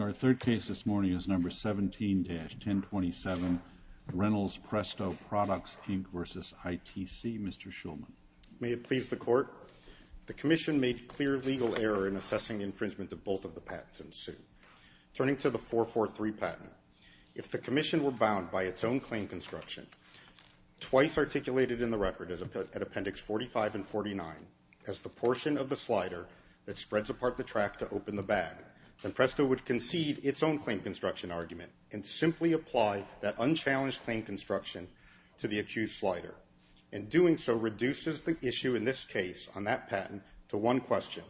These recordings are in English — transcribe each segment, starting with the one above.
Our third case this morning is number 17-1027 Reynolds Presto Products Inc. v. ITC. Mr. Shulman. May it please the Court. The Commission made clear legal error in assessing infringement of both of the patents in suit. Turning to the 443 patent, if the Commission were bound by its own claim construction, twice articulated in the record at Appendix 45 and 49, as the portion of the slider that spreads apart the track to open the bag, then Presto would concede its own claim construction argument and simply apply that unchallenged claim construction to the accused slider. In doing so, reduces the issue in this case on that patent to one question.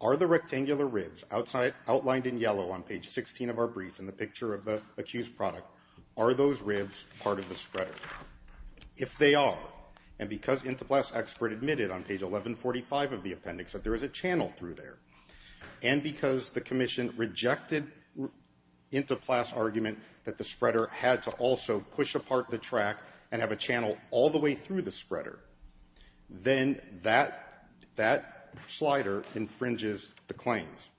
Are the rectangular ribs outlined in yellow on page 16 of our brief in the picture of the accused product, are those ribs part of the spreader? If they are, and because Intoplast's expert admitted on page 1145 of the appendix that there is a channel through there, and because the Commission rejected Intoplast's argument that the spreader had to also push apart the track and have a channel all the way through the spreader, then that slider infringes the claims.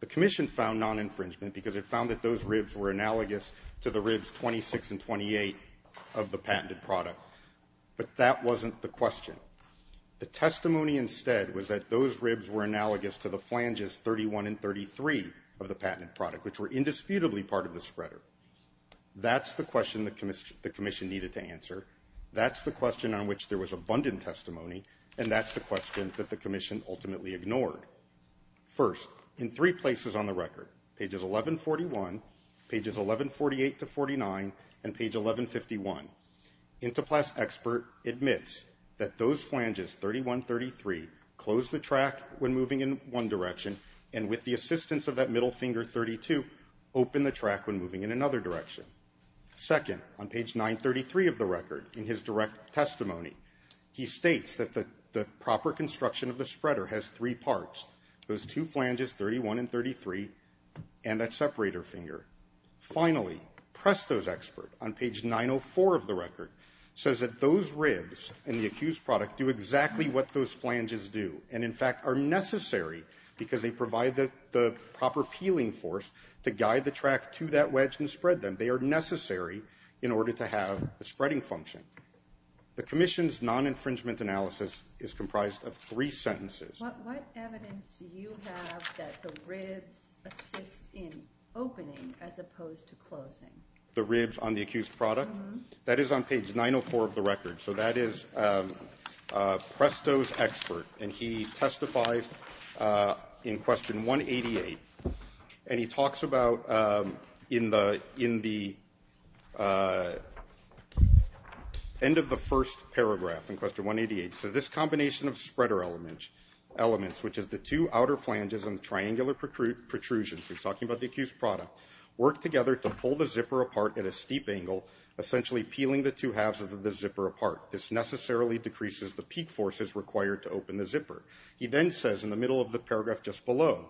The Commission found non-infringement because it found that those ribs were analogous to the ribs 26 and 28 of the patented product, but that wasn't the question. The testimony instead was that those ribs were analogous to the flanges 31 and 33 of the patented product, which were indisputably part of the spreader. That's the question the Commission needed to answer, that's the question on which there was abundant testimony, and that's the question that the Commission ultimately ignored. First, in three pages, pages 1148 to 49, and page 1151, Intoplast's expert admits that those flanges 31 and 33 closed the track when moving in one direction, and with the assistance of that middle finger 32, opened the track when moving in another direction. Second, on page 933 of the record in his direct testimony, he states that the proper construction of the spreader has three fingers. Finally, Presto's expert, on page 904 of the record, says that those ribs and the accused product do exactly what those flanges do, and in fact are necessary because they provide the proper peeling force to guide the track to that wedge and spread them. They are necessary in order to have a spreading function. The Commission's non-infringement analysis is comprised of three sentences. What evidence do you have that the ribs assist in opening as opposed to closing? The ribs on the accused product? That is on page 904 of the record, so that is Presto's expert, and he testifies in question 188, and he talks about in the end of the first element, which is the two outer flanges and the triangular protrusions, he is talking about the accused product, work together to pull the zipper apart at a steep angle, essentially peeling the two halves of the zipper apart. This necessarily decreases the peak forces required to open the zipper. He then says in the middle of the paragraph just below,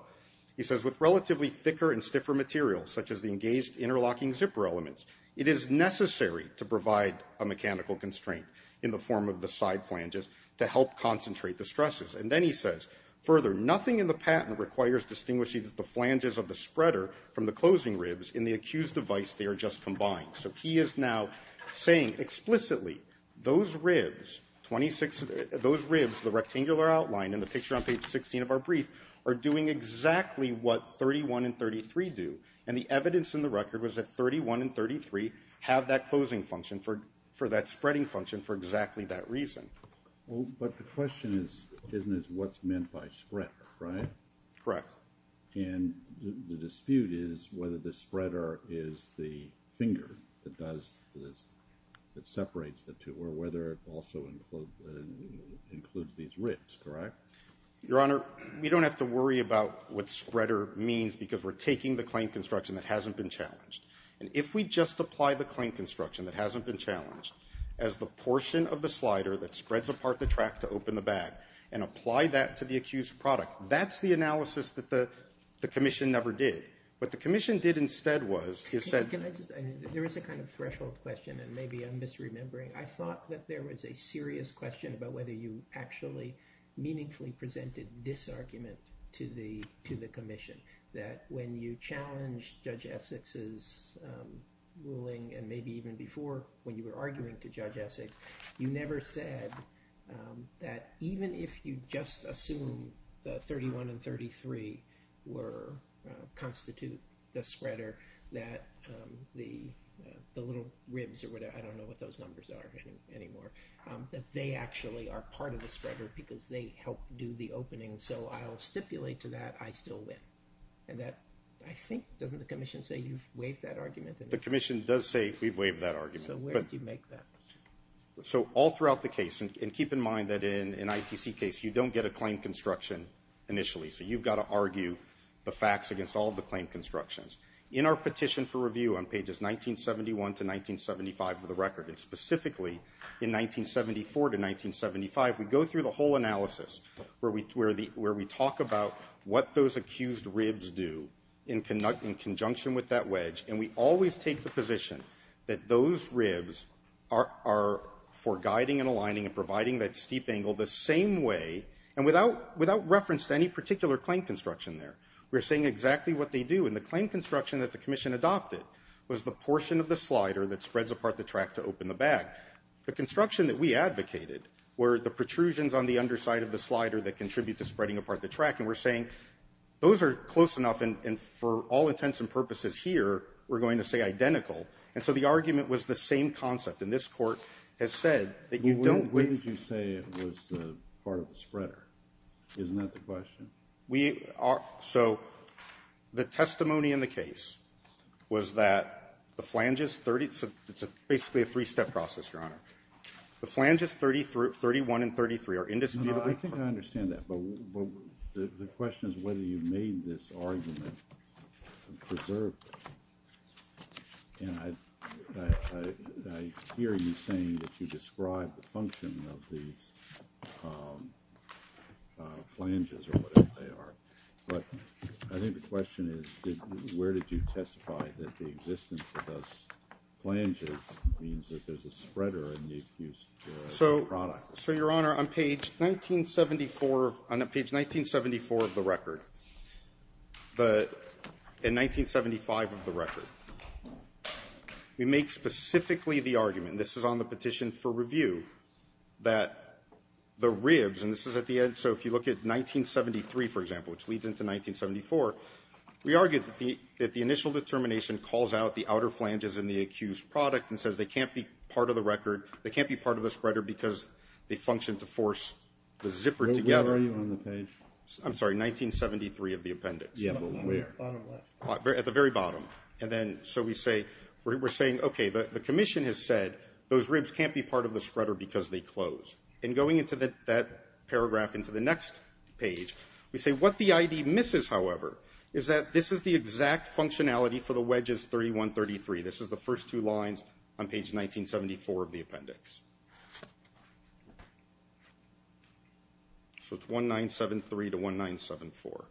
he says with relatively thicker and stiffer materials, such as the engaged interlocking zipper elements, it is necessary to provide a mechanical constraint in the form of the side flanges to help concentrate the stresses. Then he says, further, nothing in the patent requires distinguishing the flanges of the spreader from the closing ribs in the accused device they are just combining. So he is now saying explicitly, those ribs, the rectangular outline in the picture on page 16 of our brief, are doing exactly what 31 and 33 do, and the evidence in the record was that 31 and 33 have that closing function for that spreading reason. Well, but the question is, isn't this what's meant by spread, right? Correct. And the dispute is whether the spreader is the finger that does this, that separates the two, or whether it also includes these ribs, correct? Your Honor, we don't have to worry about what spreader means because we are taking the claim construction that hasn't been challenged. And if we just apply the claim construction that hasn't been challenged as the portion of the slider that spreads apart the track to open the bag, and apply that to the accused product, that's the analysis that the commission never did. What the commission did instead was, is said... Can I just, there is a kind of threshold question, and maybe I'm misremembering. I thought that there was a serious question about whether you actually meaningfully presented this argument to the commission, that when you challenged Judge Essex's ruling, and maybe even before when you were arguing to Judge Essex, you never said that even if you just assume that 31 and 33 were, constitute the spreader, that the little ribs or whatever, I don't know what those numbers are anymore, that they actually are part of the spreader because they helped do the opening. So I'll stipulate to that I still win. And that, I think, doesn't the commission say you've waived that argument? The commission does say we've waived that argument. So where do you make that? So all throughout the case, and keep in mind that in an ITC case, you don't get a claim construction initially. So you've got to argue the facts against all of the claim constructions. In our petition for review on pages 1971 to 1975 of the record, and specifically in 1974 to 1975, we go through the whole analysis where we talk about what those accused ribs do in conjunction with that wedge. And we always take the position that those ribs are for guiding and aligning and providing that steep angle the same way, and without reference to any particular claim construction there. We're saying exactly what they do. And the claim construction that the commission adopted was the portion of the slider that spreads apart the track to open the bag. The construction that we advocated were the protrusions on the underside of the slider that contribute to spreading apart the track. And we're saying those are close enough, and for all intents and purposes here, we're going to say identical. And so the argument was the same concept. And this court has said that you don't... Well, when did you say it was part of the spreader? Isn't that the question? We are... So the testimony in the case was that the flanges 30... It's basically a three-step process, Your Honor. The flanges 31 and 33 are indisputably... I think I understand that. But the question is whether you made this argument preserved. And I hear you saying that you described the function of these flanges or whatever. I think the question is where did you testify that the existence of those flanges means that there's a spreader in the use of the product? So Your Honor, on page 1974 of the record, in 1975 of the record, we make specifically the argument, and this is on the petition for review, that the ribs, and this is at 1973, for example, which leads into 1974, we argue that the initial determination calls out the outer flanges in the accused product and says they can't be part of the record, they can't be part of the spreader because they function to force the zipper together. Where are you on the page? I'm sorry, 1973 of the appendix. Yeah, but where? Bottom left. At the very bottom. And then so we say... We're saying, okay, the Commission has said those ribs can't be part of the spreader because they close. And going into that paragraph, into the next page, we say what the ID misses, however, is that this is the exact functionality for the wedges 31, 33. This is the first two lines on page 1974 of the appendix. So it's 1973 to 1974.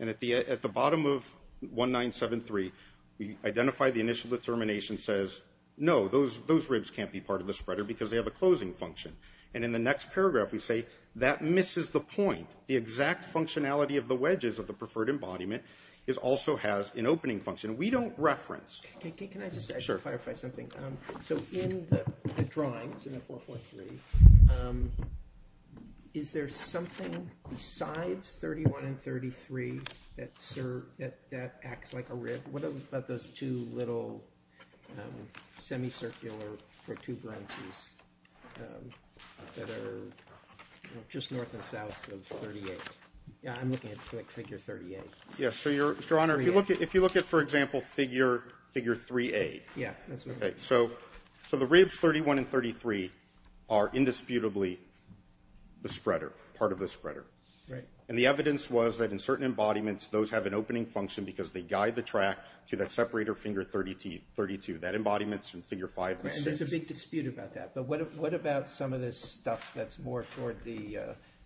And at the bottom of 1973, we identify the initial determination says, no, those ribs can't be part of the spreader because they have a closing function. And in the next paragraph, we say that misses the point. The exact functionality of the wedges of the preferred embodiment also has an opening function. We don't reference... Can I just clarify something? So in the drawings in the 443, is there something besides 31 and 33 that acts like a rib? What about those two little semicircular for two branches that are just north and south of 38? Yeah, I'm looking at figure 38. Yeah. So, Your Honor, if you look at, for example, figure 3A. Yeah. So the ribs 31 and 33 are indisputably the spreader, part of the spreader. Right. And the evidence was that in certain embodiments, those have an opening function because they guide the track to that separator finger 32. That embodiment's in figure 5. And there's a big dispute about that. But what about some of this stuff that's more toward the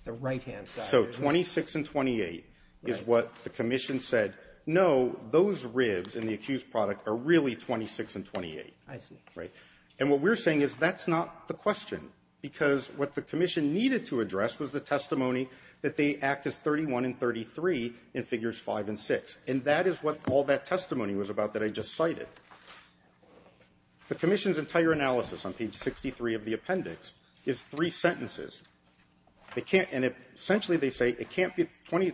right-hand side? So 26 and 28 is what the commission said, no, those ribs in the accused product are really 26 and 28. I see. Right. And what we're saying is that's not the question because what the commission needed to address was the testimony that they act as 31 and 33 in figures 5 and 6. And that is what all that testimony was about that I just cited. The commission's entire analysis on page 63 of the appendix is three sentences. They can't, and essentially they say it can't be,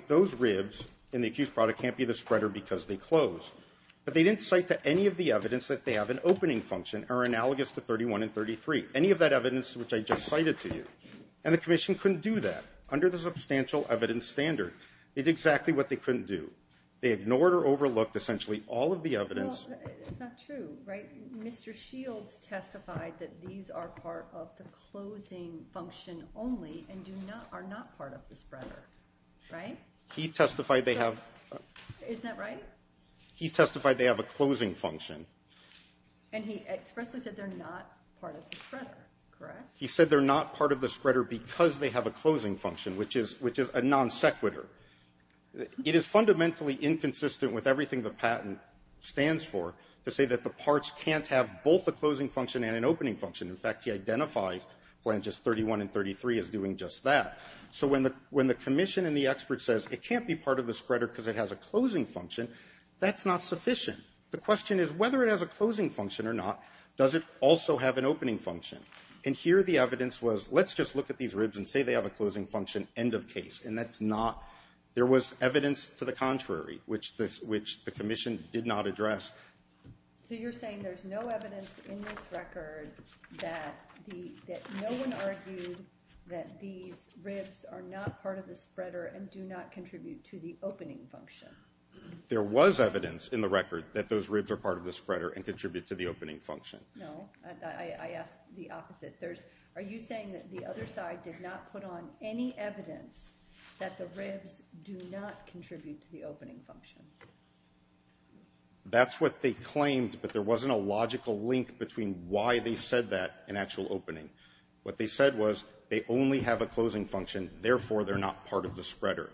those ribs in the accused product can't be the spreader because they close. But they didn't cite that any of the evidence that they have an opening function are analogous to 31 and 33. Any of that evidence which I just cited to you. And the commission couldn't do that under the substantial evidence standard. It's exactly what they couldn't do. They ignored or overlooked essentially all of the evidence. It's not true, right? Mr. Shields testified that these are part of the closing function only and are not part of the spreader, right? He testified they have. Isn't that right? He testified they have a closing function. And he expressly said they're not part of the spreader, correct? He said they're not part of the spreader because they have a closing function, which is a non sequitur. It is fundamentally inconsistent with everything the patent stands for to say that the parts can't have both a closing function and an opening function. In fact, he identifies Blanches 31 and 33 as doing just that. So when the commission and the expert says it can't be part of the spreader because it has a closing function, that's not sufficient. The question is whether it has a closing function or not, does it also have an opening function? And here the evidence was let's just look at these ribs and say they have a closing function, end of case, and that's not. There was evidence to the contrary, which the commission did not address. So you're saying there's no evidence in this record that no one argued that these ribs are not part of the spreader and do not contribute to the opening function? There was evidence in the record that those ribs are part of the spreader and contribute to the opening function. No, I asked the opposite. Are you saying that the other side did not put on any evidence that the ribs do not contribute to the opening function? That's what they claimed, but there wasn't a logical link between why they said that and actual opening. What they said was they only have a closing function, therefore they're not part of the spreader.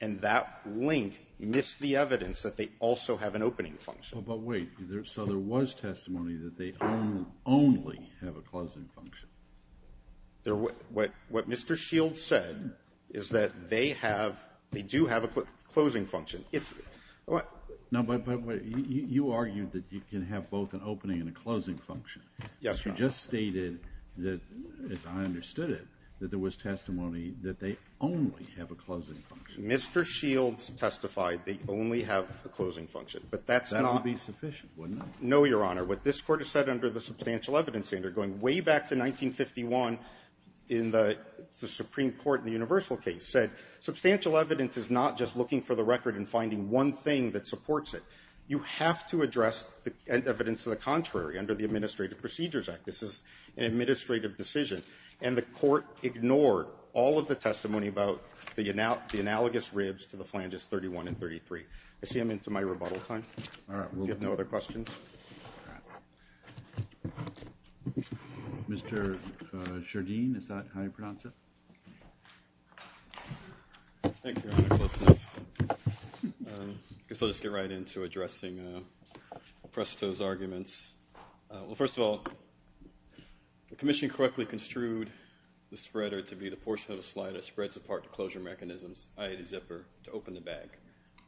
And that link missed the evidence that they also have an opening function. But wait. So there was testimony that they only have a closing function? What Mr. Shields said is that they have they do have a closing function. It's what you argued that you can have both an opening and a closing function. Yes, Your Honor. You just stated that, as I understood it, that there was testimony that they only have a closing function. Mr. Shields testified they only have a closing function. But that's not. That would be sufficient, wouldn't it? No, Your Honor. What this Court has said under the Substantial Evidence Act, going way back to 1951 in the Supreme Court in the Universal case, said substantial evidence is not just looking for the record and finding one thing that supports it. You have to address the evidence of the contrary under the Administrative Procedures Act. This is an administrative decision. And the Court ignored all of the testimony about the analogous ribs to the phalanges 31 and 33. I see I'm into my rebuttal time. If you have no other questions. Mr. Sherdean, is that how you pronounce it? Thank you, Your Honor. Close enough. I guess I'll just get right into addressing Presto's arguments. Well, first of all, the Commission correctly construed the spreader to be the portion of a slider that spreads apart the closure mechanisms, i.e. the zipper, to open the bag.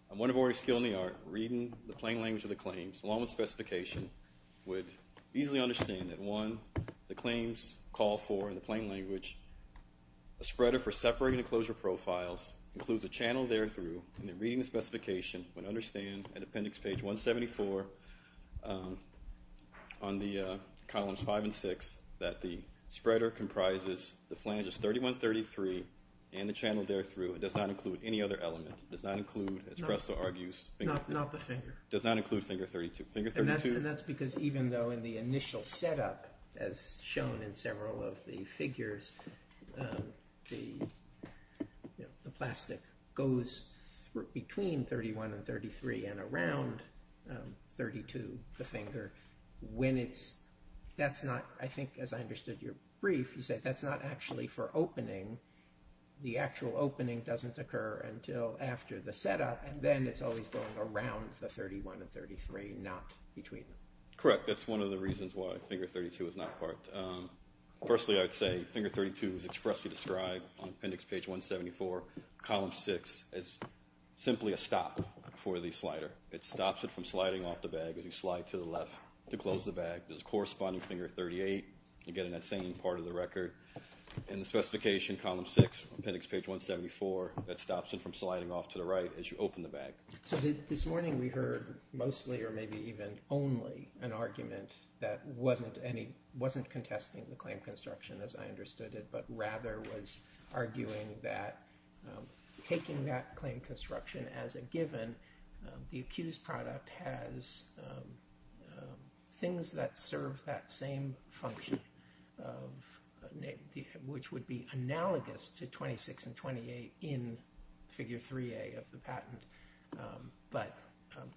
One of our skills in the art of reading the plain language of the claims, along with specification, would easily understand that, one, the claims call for, in the plain language, a spreader for separating the closure profiles, includes a channel there through, and in reading the specification, would understand, at appendix page 174, on the columns 5 and 6, that the spreader comprises the phalanges 31, 33, and the channel there through. It does not include any other element. It does not include, as Presto argues, finger 32. Not the finger. It does not include finger 32. And that's because even though in the initial setup, as shown in several of the figures, the plastic goes between 31 and 33 and around 32, the finger, when it's, that's not, I think, as I understood your brief, you said that's not actually for opening. The actual opening doesn't occur until after the setup, and then it's always going around the 31 and 33, not between them. Correct. That's one of the reasons why finger 32 is not part. Firstly, I would say finger 32 is expressly described on appendix page 174, column 6, as simply a stop for the slider. It stops it from sliding off the bag as you slide to the left to close the bag. There's a corresponding finger 38. You get in that same part of the record. In the specification, column 6, appendix page 174, that stops it from sliding off to the right as you open the bag. So this morning we heard mostly, or maybe even only, an argument that wasn't contesting the claim construction as I understood it, but rather was arguing that taking that claim construction as a given, the accused product has things that serve that same function, which would be analogous to 26 and 28 in figure 3A of the patent, but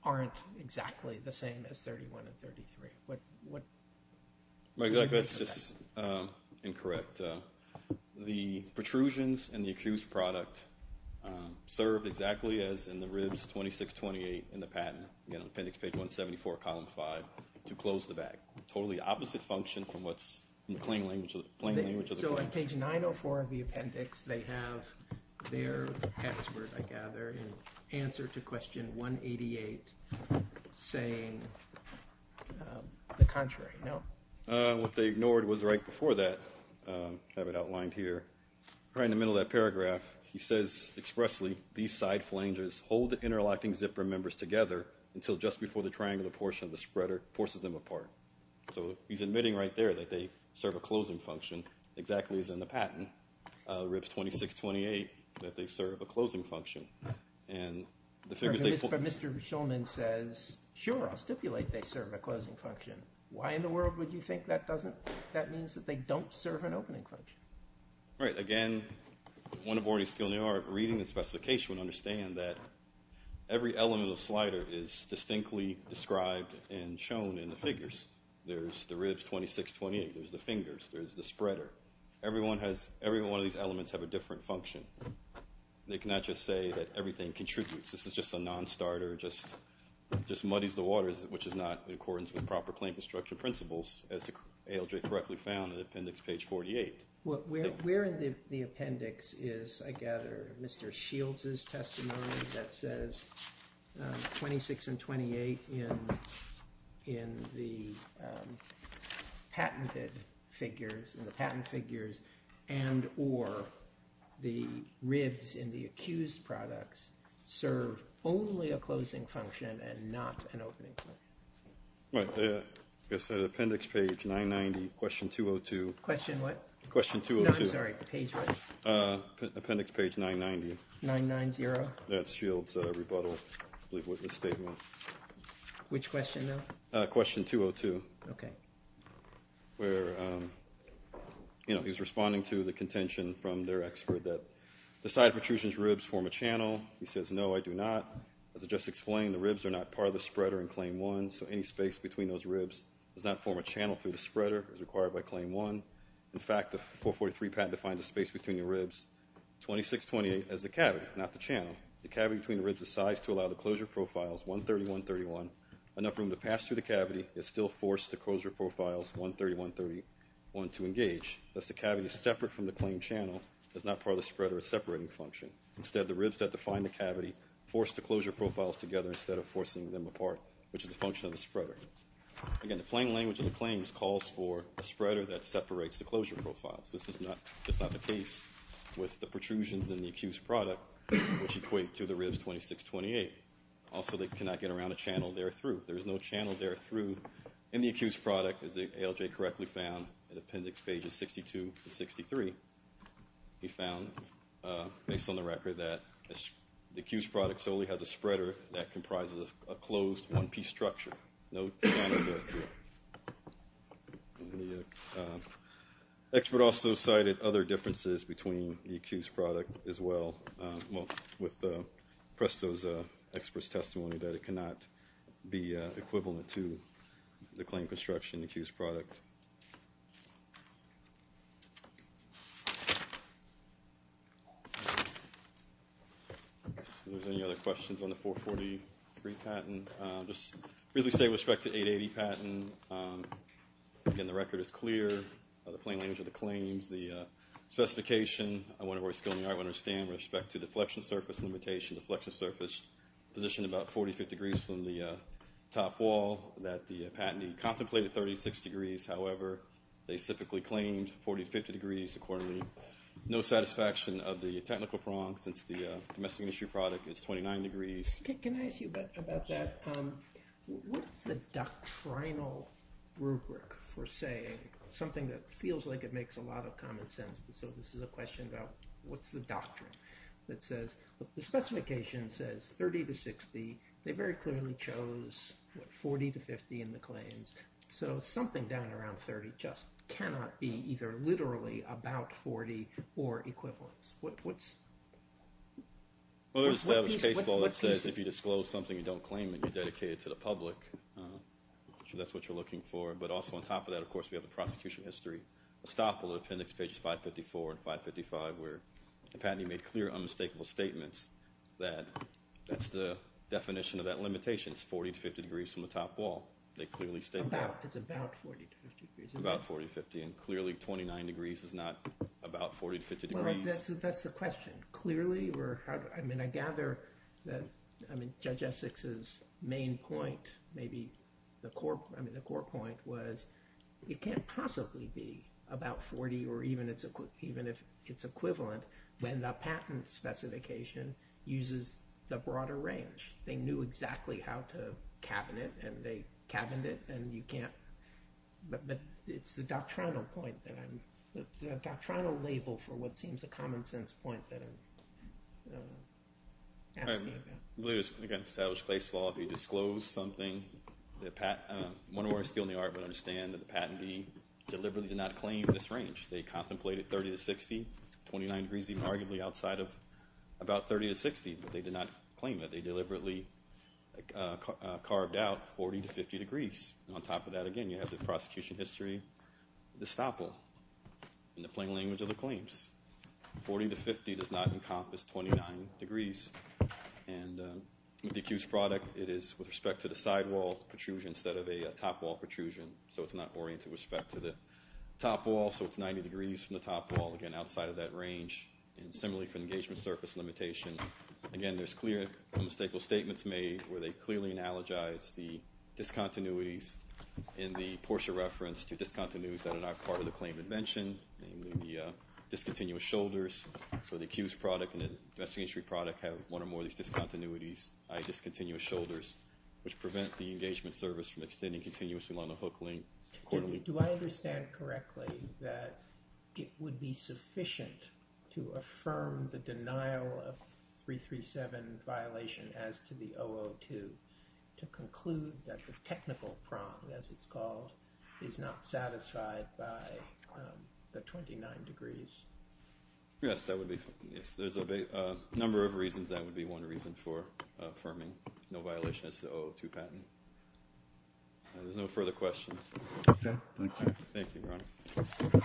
aren't exactly the same as 31 and 33. Exactly, that's just incorrect. The protrusions in the accused product serve exactly as in the ribs 26, 28 in the patent, appendix page 174, column 5, to close the bag. Totally opposite function from what's in the plain language of the claims. So on page 904 of the appendix, they have their password, I gather, in answer to question 188, saying the contrary, no? What they ignored was right before that, have it outlined here. Right in the middle of that paragraph, he says expressly, these side flanges hold the interlocking zipper members together until just before the triangular portion of the spreader forces them apart. So he's admitting right there that they serve a closing function, exactly as in the patent, ribs 26, 28, that they serve a closing function. But Mr. Schulman says, sure, I'll stipulate they serve a closing function. Why in the world would you think that doesn't, that means that they don't serve an opening function? Right, again, one aborting skill in the art of reading the specification would understand that every element of the slider is distinctly described and shown in the figures. There's the ribs 26, 28, there's the fingers, there's the spreader. Every one of these elements have a different function. They cannot just say that everything contributes. This is just a non-starter, just muddies the waters, which is not in accordance with proper plain construction principles, as ALJ correctly found in appendix page 48. Where in the appendix is, I gather, Mr. Shields' testimony that says 26 and 28 in the patented figures, and or the ribs in the accused products serve only a closing function and not an opening function. Right, appendix page 990, question 202. Question what? Question 202. No, I'm sorry, page what? Appendix page 990. 990? That's Shields' rebuttal statement. Which question now? Question 202. Okay. Where, you know, he's responding to the contention from their expert that the side protrusion's ribs form a channel. He says, no, I do not. As I just explained, the ribs are not part of the spreader in claim one, so any space between those ribs does not form a channel through the spreader as required by claim one. In fact, the 443 patent defines a space between the ribs, 26, 28, as the cavity, not the channel. The cavity between the ribs is sized to allow the closure profiles, 130, 131, enough room to pass through the cavity, yet still force the closure profiles, 130, 131, to engage. Thus, the cavity is separate from the claim channel. It's not part of the spreader's separating function. Instead, the ribs that define the cavity force the closure profiles together instead of forcing them apart, which is a function of the spreader. Again, the plain language of the claims calls for a spreader that separates the closure profiles. This is not the case with the protrusions in the accused product, which equate to the ribs 26, 28. Also, they cannot get around a channel there through. There is no channel there through in the accused product, as the ALJ correctly found in Appendix Pages 62 and 63. He found, based on the record, that the accused product solely has a spreader that comprises a closed, one-piece structure. No channel there through. The expert also cited other differences between the accused product as well, with PRESTO's expert's testimony that it cannot be equivalent to the claim construction accused product. Are there any other questions on the 443 patent? Just briefly state with respect to 880 patent. Again, the record is clear. The plain language of the claims, the specification, I want to understand with respect to deflection surface limitation. Deflection surface positioned about 45 degrees from the top wall that the patentee contemplated 36 degrees. However, they specifically claimed 40 to 50 degrees. Accordingly, no satisfaction of the technical prong since the domestic industry product is 29 degrees. Can I ask you about that? What is the doctrinal rubric for saying something that feels like it makes a lot of common sense? So this is a question about what's the doctrine that says, the specification says 30 to 60. They very clearly chose 40 to 50 in the claims. So something down around 30 just cannot be either literally about 40 or equivalence. What's... Well, there's established case law that says if you disclose something you don't claim it, you dedicate it to the public. So that's what you're looking for. But also on top of that, of course, we have the prosecution history. A stop on appendix pages 554 and 555 where the patentee made clear unmistakable statements that that's the definition of that limitation. It's 40 to 50 degrees from the top wall. They clearly state that. It's about 40 to 50 degrees. About 40 to 50. And clearly 29 degrees is not about 40 to 50 degrees. Well, that's the question. Clearly we're... I mean, I gather that, I mean, Judge Essex's main point, maybe the core point was it can't possibly be about 40 or even if it's equivalent when the patent specification uses the broader range. They knew exactly how to cabin it and they cabined it and you can't... But it's the doctrinal point that I'm... The doctrinal label for what seems a common sense point that I'm asking about. I believe it's against established place law if you disclose something, one more skill in the art, but understand that the patentee deliberately did not claim this range. They contemplated 30 to 60, 29 degrees even arguably outside of about 30 to 60, but they did not claim that. They deliberately carved out 40 to 50 degrees. And on top of that, again, you have the prosecution history, the stopple in the plain language of the claims. 40 to 50 does not encompass 29 degrees. And with the accused product, it is with respect to the sidewall protrusion instead of a topwall protrusion, so it's not oriented with respect to the topwall, so it's 90 degrees from the topwall, again, outside of that range. And similarly for engagement surface limitation, again, there's clear and mistakeful statements made where they clearly analogize the discontinuities in the Porsche reference to discontinuities that are not part of the claim of invention, namely the discontinuous shoulders. So the accused product and the investigatory product have one or more of these discontinuities, discontinuous shoulders, which prevent the engagement surface from extending continuously along the hook link. Do I understand correctly that it would be sufficient to affirm the denial of 337 violation as to the 002 to conclude that the technical prong, as it's called, is not satisfied by the 29 degrees? Yes, there's a number of reasons that would be one reason for affirming no violation as to the 002 patent. There's no further questions. Okay, thank you. Thank you, Ron.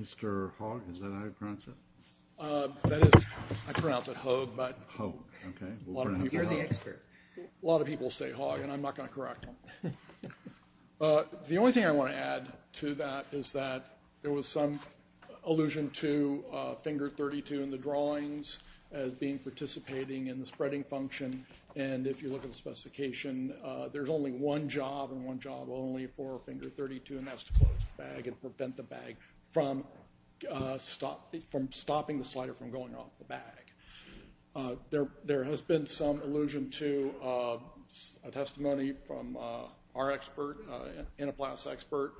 Mr. Hogg, is that how you pronounce it? I pronounce it Hogue, but a lot of people say Hogg, and I'm not going to correct them. The only thing I want to add to that is that there was some allusion to finger 32 in the drawings as being participating in the spreading function, and if you look at the specification, there's only one job and one job only for finger 32, and that's to close the bag and prevent the bag from stopping the slider from going off the bag. There has been some allusion to a testimony from our expert, an enoplast expert,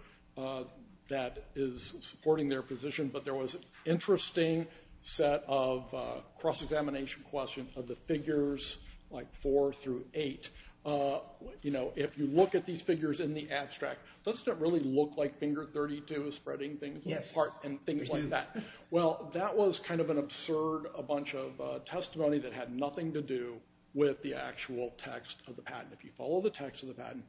that is supporting their position, but there was an interesting set of cross-examination questions of the figures like four through eight. You know, if you look at these figures in the abstract, doesn't it really look like finger 32 is spreading things apart and things like that? Well, that was kind of an absurd bunch of testimony that had nothing to do with the actual text of the patent. If you follow the text of the patent,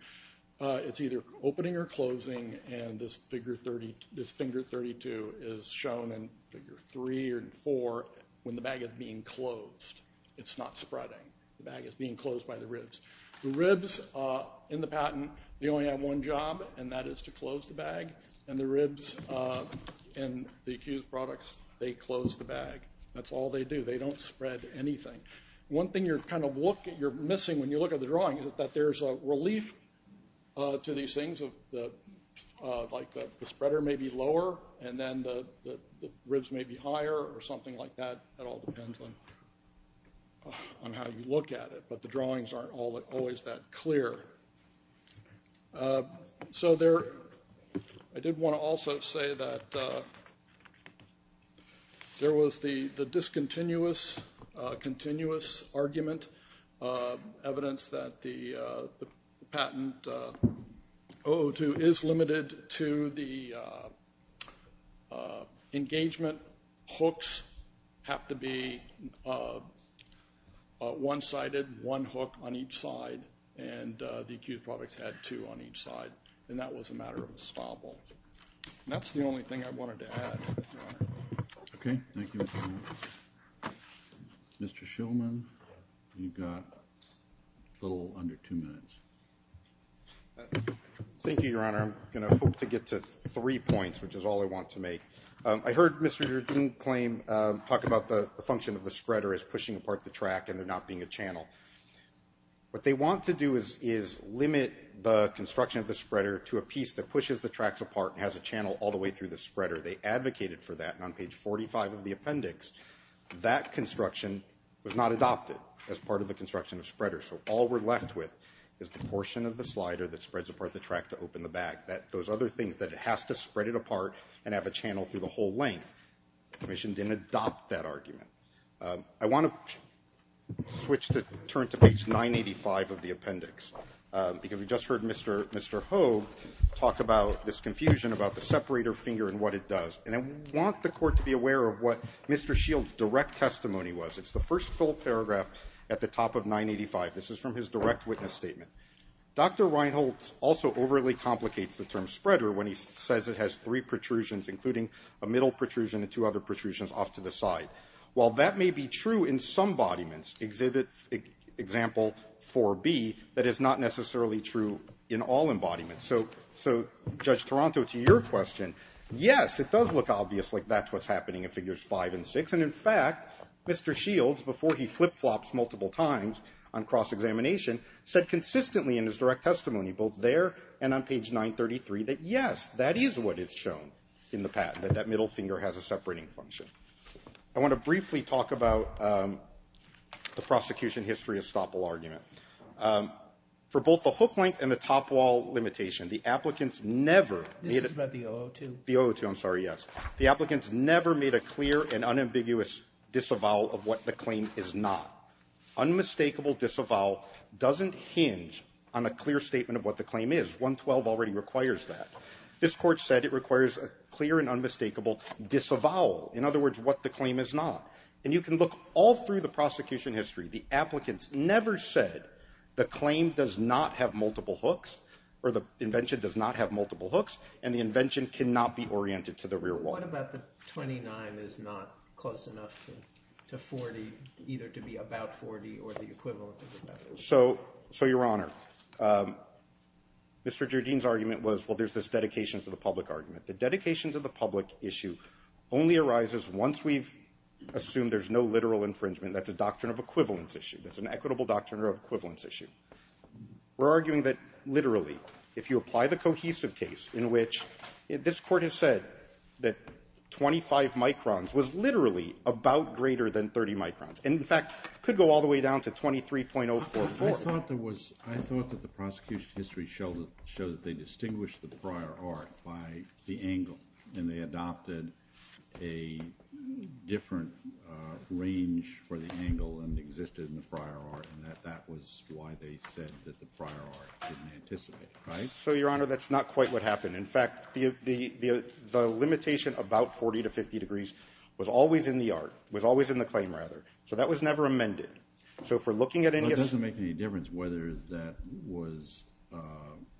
it's either opening or closing, and this finger 32 is shown in figure three and four when the bag is being closed. It's not spreading. The bag is being closed by the ribs. The ribs in the patent, they only have one job, and that is to close the bag, and the ribs in the accused products, they close the bag. That's all they do. They don't spread anything. One thing you're kind of missing when you look at the drawing is that there's a relief to these things like the spreader may be lower and then the ribs may be higher or something like that. That all depends on how you look at it, but the drawings aren't always that clear. So I did want to also say that there was the discontinuous, continuous argument, evidence that the patent O02 is limited to the engagement hooks have to be one-sided, one hook on each side, and the accused products had two on each side, and that was a matter of estoppel. And that's the only thing I wanted to add, Your Honor. Okay. Thank you, Mr. Miller. Mr. Shillman, you've got a little under two minutes. Thank you, Your Honor. I'm going to hope to get to three points, which is all I want to make. I heard Mr. Jardim claim, talk about the function of the spreader as pushing apart the track and there not being a channel. What they want to do is limit the construction of the spreader to a piece that pushes the tracks apart and has a channel all the way through the spreader. They advocated for that, and on page 45 of the appendix, that construction was not adopted as part of the construction of spreader. So all we're left with is the portion of the slider that spreads apart the track to open the back, those other things, that it has to spread it apart and have a channel through the whole length. The commission didn't adopt that argument. I want to switch to turn to page 985 of the appendix, because we just heard Mr. Hogue talk about this confusion about the separator finger and what it does. And I want the court to be aware of what Mr. Shill's direct testimony was. It's the first full paragraph at the top of 985. This is from his direct witness statement. Dr. Reinholtz also overly complicates the term spreader when he says it has three protrusions, including a middle protrusion, and two other protrusions off to the side. While that may be true in some embodiments, Exhibit Example 4B, that is not necessarily true in all embodiments. So, Judge Toronto, to your question, yes, it does look obvious like that's what's happening in Figures 5 and 6. And, in fact, Mr. Shill, before he flip-flops multiple times on cross-examination, said consistently in his direct testimony, both there and on page 933, that, yes, that is what is shown in the patent, that that middle finger has a separating function. I want to briefly talk about the prosecution history estoppel argument. For both the hook-length and the top-wall limitation, the applicants never made a ---- Roberts. This is about the 002. Horwich. The 002, I'm sorry, yes. The applicants never made a clear and unambiguous disavowal of what the claim is not. Unmistakable disavowal doesn't hinge on a clear statement of what the claim is. 112 already requires that. This Court said it requires a clear and unmistakable disavowal. In other words, what the claim is not. And you can look all through the prosecution history. The applicants never said the claim does not have multiple hooks or the invention does not have multiple hooks and the invention cannot be oriented to the rear wall. What about the 29 is not close enough to 40, either to be about 40 or the equivalent of about 40? So, Your Honor, Mr. Jardine's argument was, well, there's this dedication to the public argument. The dedication to the public issue only arises once we've assumed there's no literal infringement. That's a doctrine of equivalence issue. That's an equitable doctrine of equivalence issue. We're arguing that, literally, if you apply the cohesive case in which this Court has said that 25 microns was literally about greater than 30 microns, and, in fact, could go all the way down to 23.044. I thought there was – I thought that the prosecution history showed that they distinguished the prior art by the angle, and they adopted a different range for the angle than existed in the prior art, and that that was why they said that the prior art didn't anticipate. Right? So, Your Honor, that's not quite what happened. In fact, the limitation about 40 to 50 degrees was always in the art – was always in the claim, rather. So that was never amended. So, if we're looking at any – But it doesn't make any difference whether that was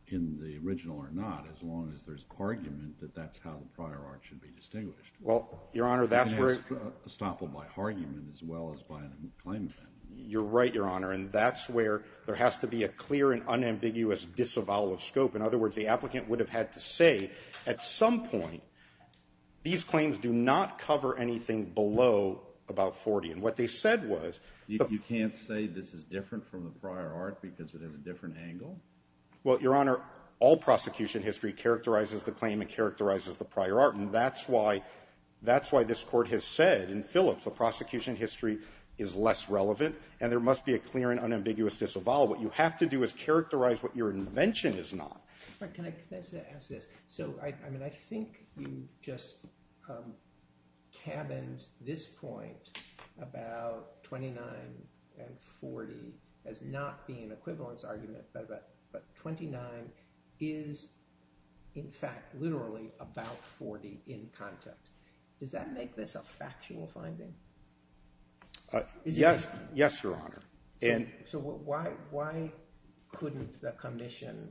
in the original or not, as long as there's argument that that's how the prior art should be distinguished. Well, Your Honor, that's where – And it's estoppeled by argument as well as by a claim. You're right, Your Honor, and that's where there has to be a clear and unambiguous disavowal of scope. In other words, the applicant would have had to say, at some point, these claims do not cover anything below about 40. And what they said was – You can't say this is different from the prior art because it has a different angle? Well, Your Honor, all prosecution history characterizes the claim and characterizes the prior art, and that's why – that's why this Court has said in Phillips the prosecution history is less relevant and there must be a clear and unambiguous disavowal. What you have to do is characterize what your invention is not. Can I ask this? So, I mean, I think you just cabined this point about 29 and 40 as not being an equivalence argument, but 29 is, in fact, literally about 40 in context. Does that make this a factual finding? Yes, Your Honor. So why couldn't the commission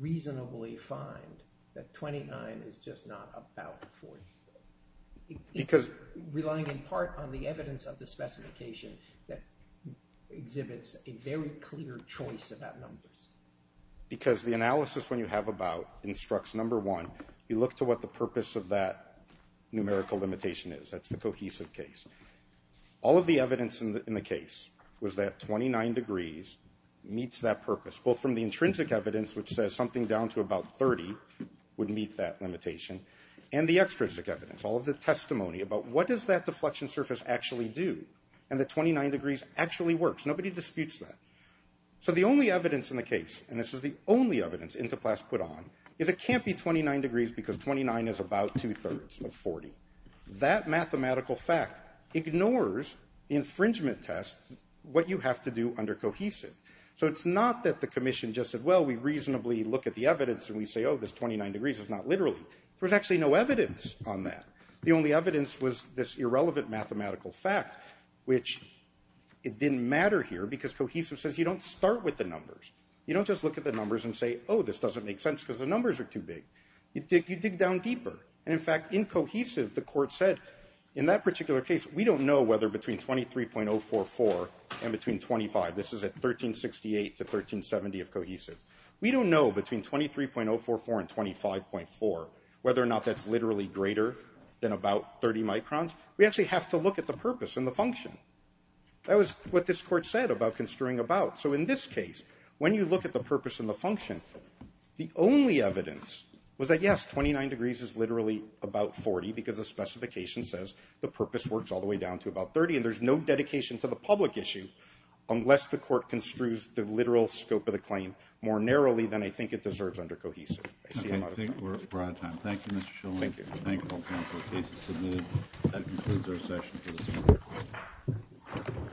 reasonably find that 29 is just not about 40? Because – Relying in part on the evidence of the specification that exhibits a very clear choice about numbers. Because the analysis when you have about instructs, number one, you look to what the purpose of that numerical limitation is. That's the cohesive case. All of the evidence in the case was that 29 degrees meets that purpose, both from the intrinsic evidence, which says something down to about 30 would meet that limitation, and the extrinsic evidence, all of the testimony about what does that deflection surface actually do, and that 29 degrees actually works. Nobody disputes that. So the only evidence in the case, and this is the only evidence Interplass put on, is it can't be 29 degrees because 29 is about two-thirds of 40. That mathematical fact ignores the infringement test, what you have to do under cohesive. So it's not that the commission just said, well, we reasonably look at the evidence and we say, oh, this 29 degrees is not literally. There's actually no evidence on that. The only evidence was this irrelevant mathematical fact, which it didn't matter here because cohesive says you don't start with the numbers. You don't just look at the numbers and say, oh, this doesn't make sense because the numbers are too big. You dig down deeper. And, in fact, in cohesive, the court said, in that particular case, we don't know whether between 23.044 and between 25, this is at 1368 to 1370 of cohesive, we don't know between 23.044 and 25.4 whether or not that's literally greater than about 30 microns. We actually have to look at the purpose and the function. That was what this court said about construing about. So in this case, when you look at the purpose and the function, the only evidence was that, yes, 29 degrees is literally about 40 because the specification says the purpose works all the way down to about 30, and there's no dedication to the public issue unless the court construes the literal scope of the claim more narrowly than I think it deserves under cohesive. I see I'm out of time. I think we're out of time. Thank you, Mr. Shulman. Thank you. Thank all counsel. The case is submitted. That concludes our session for this morning.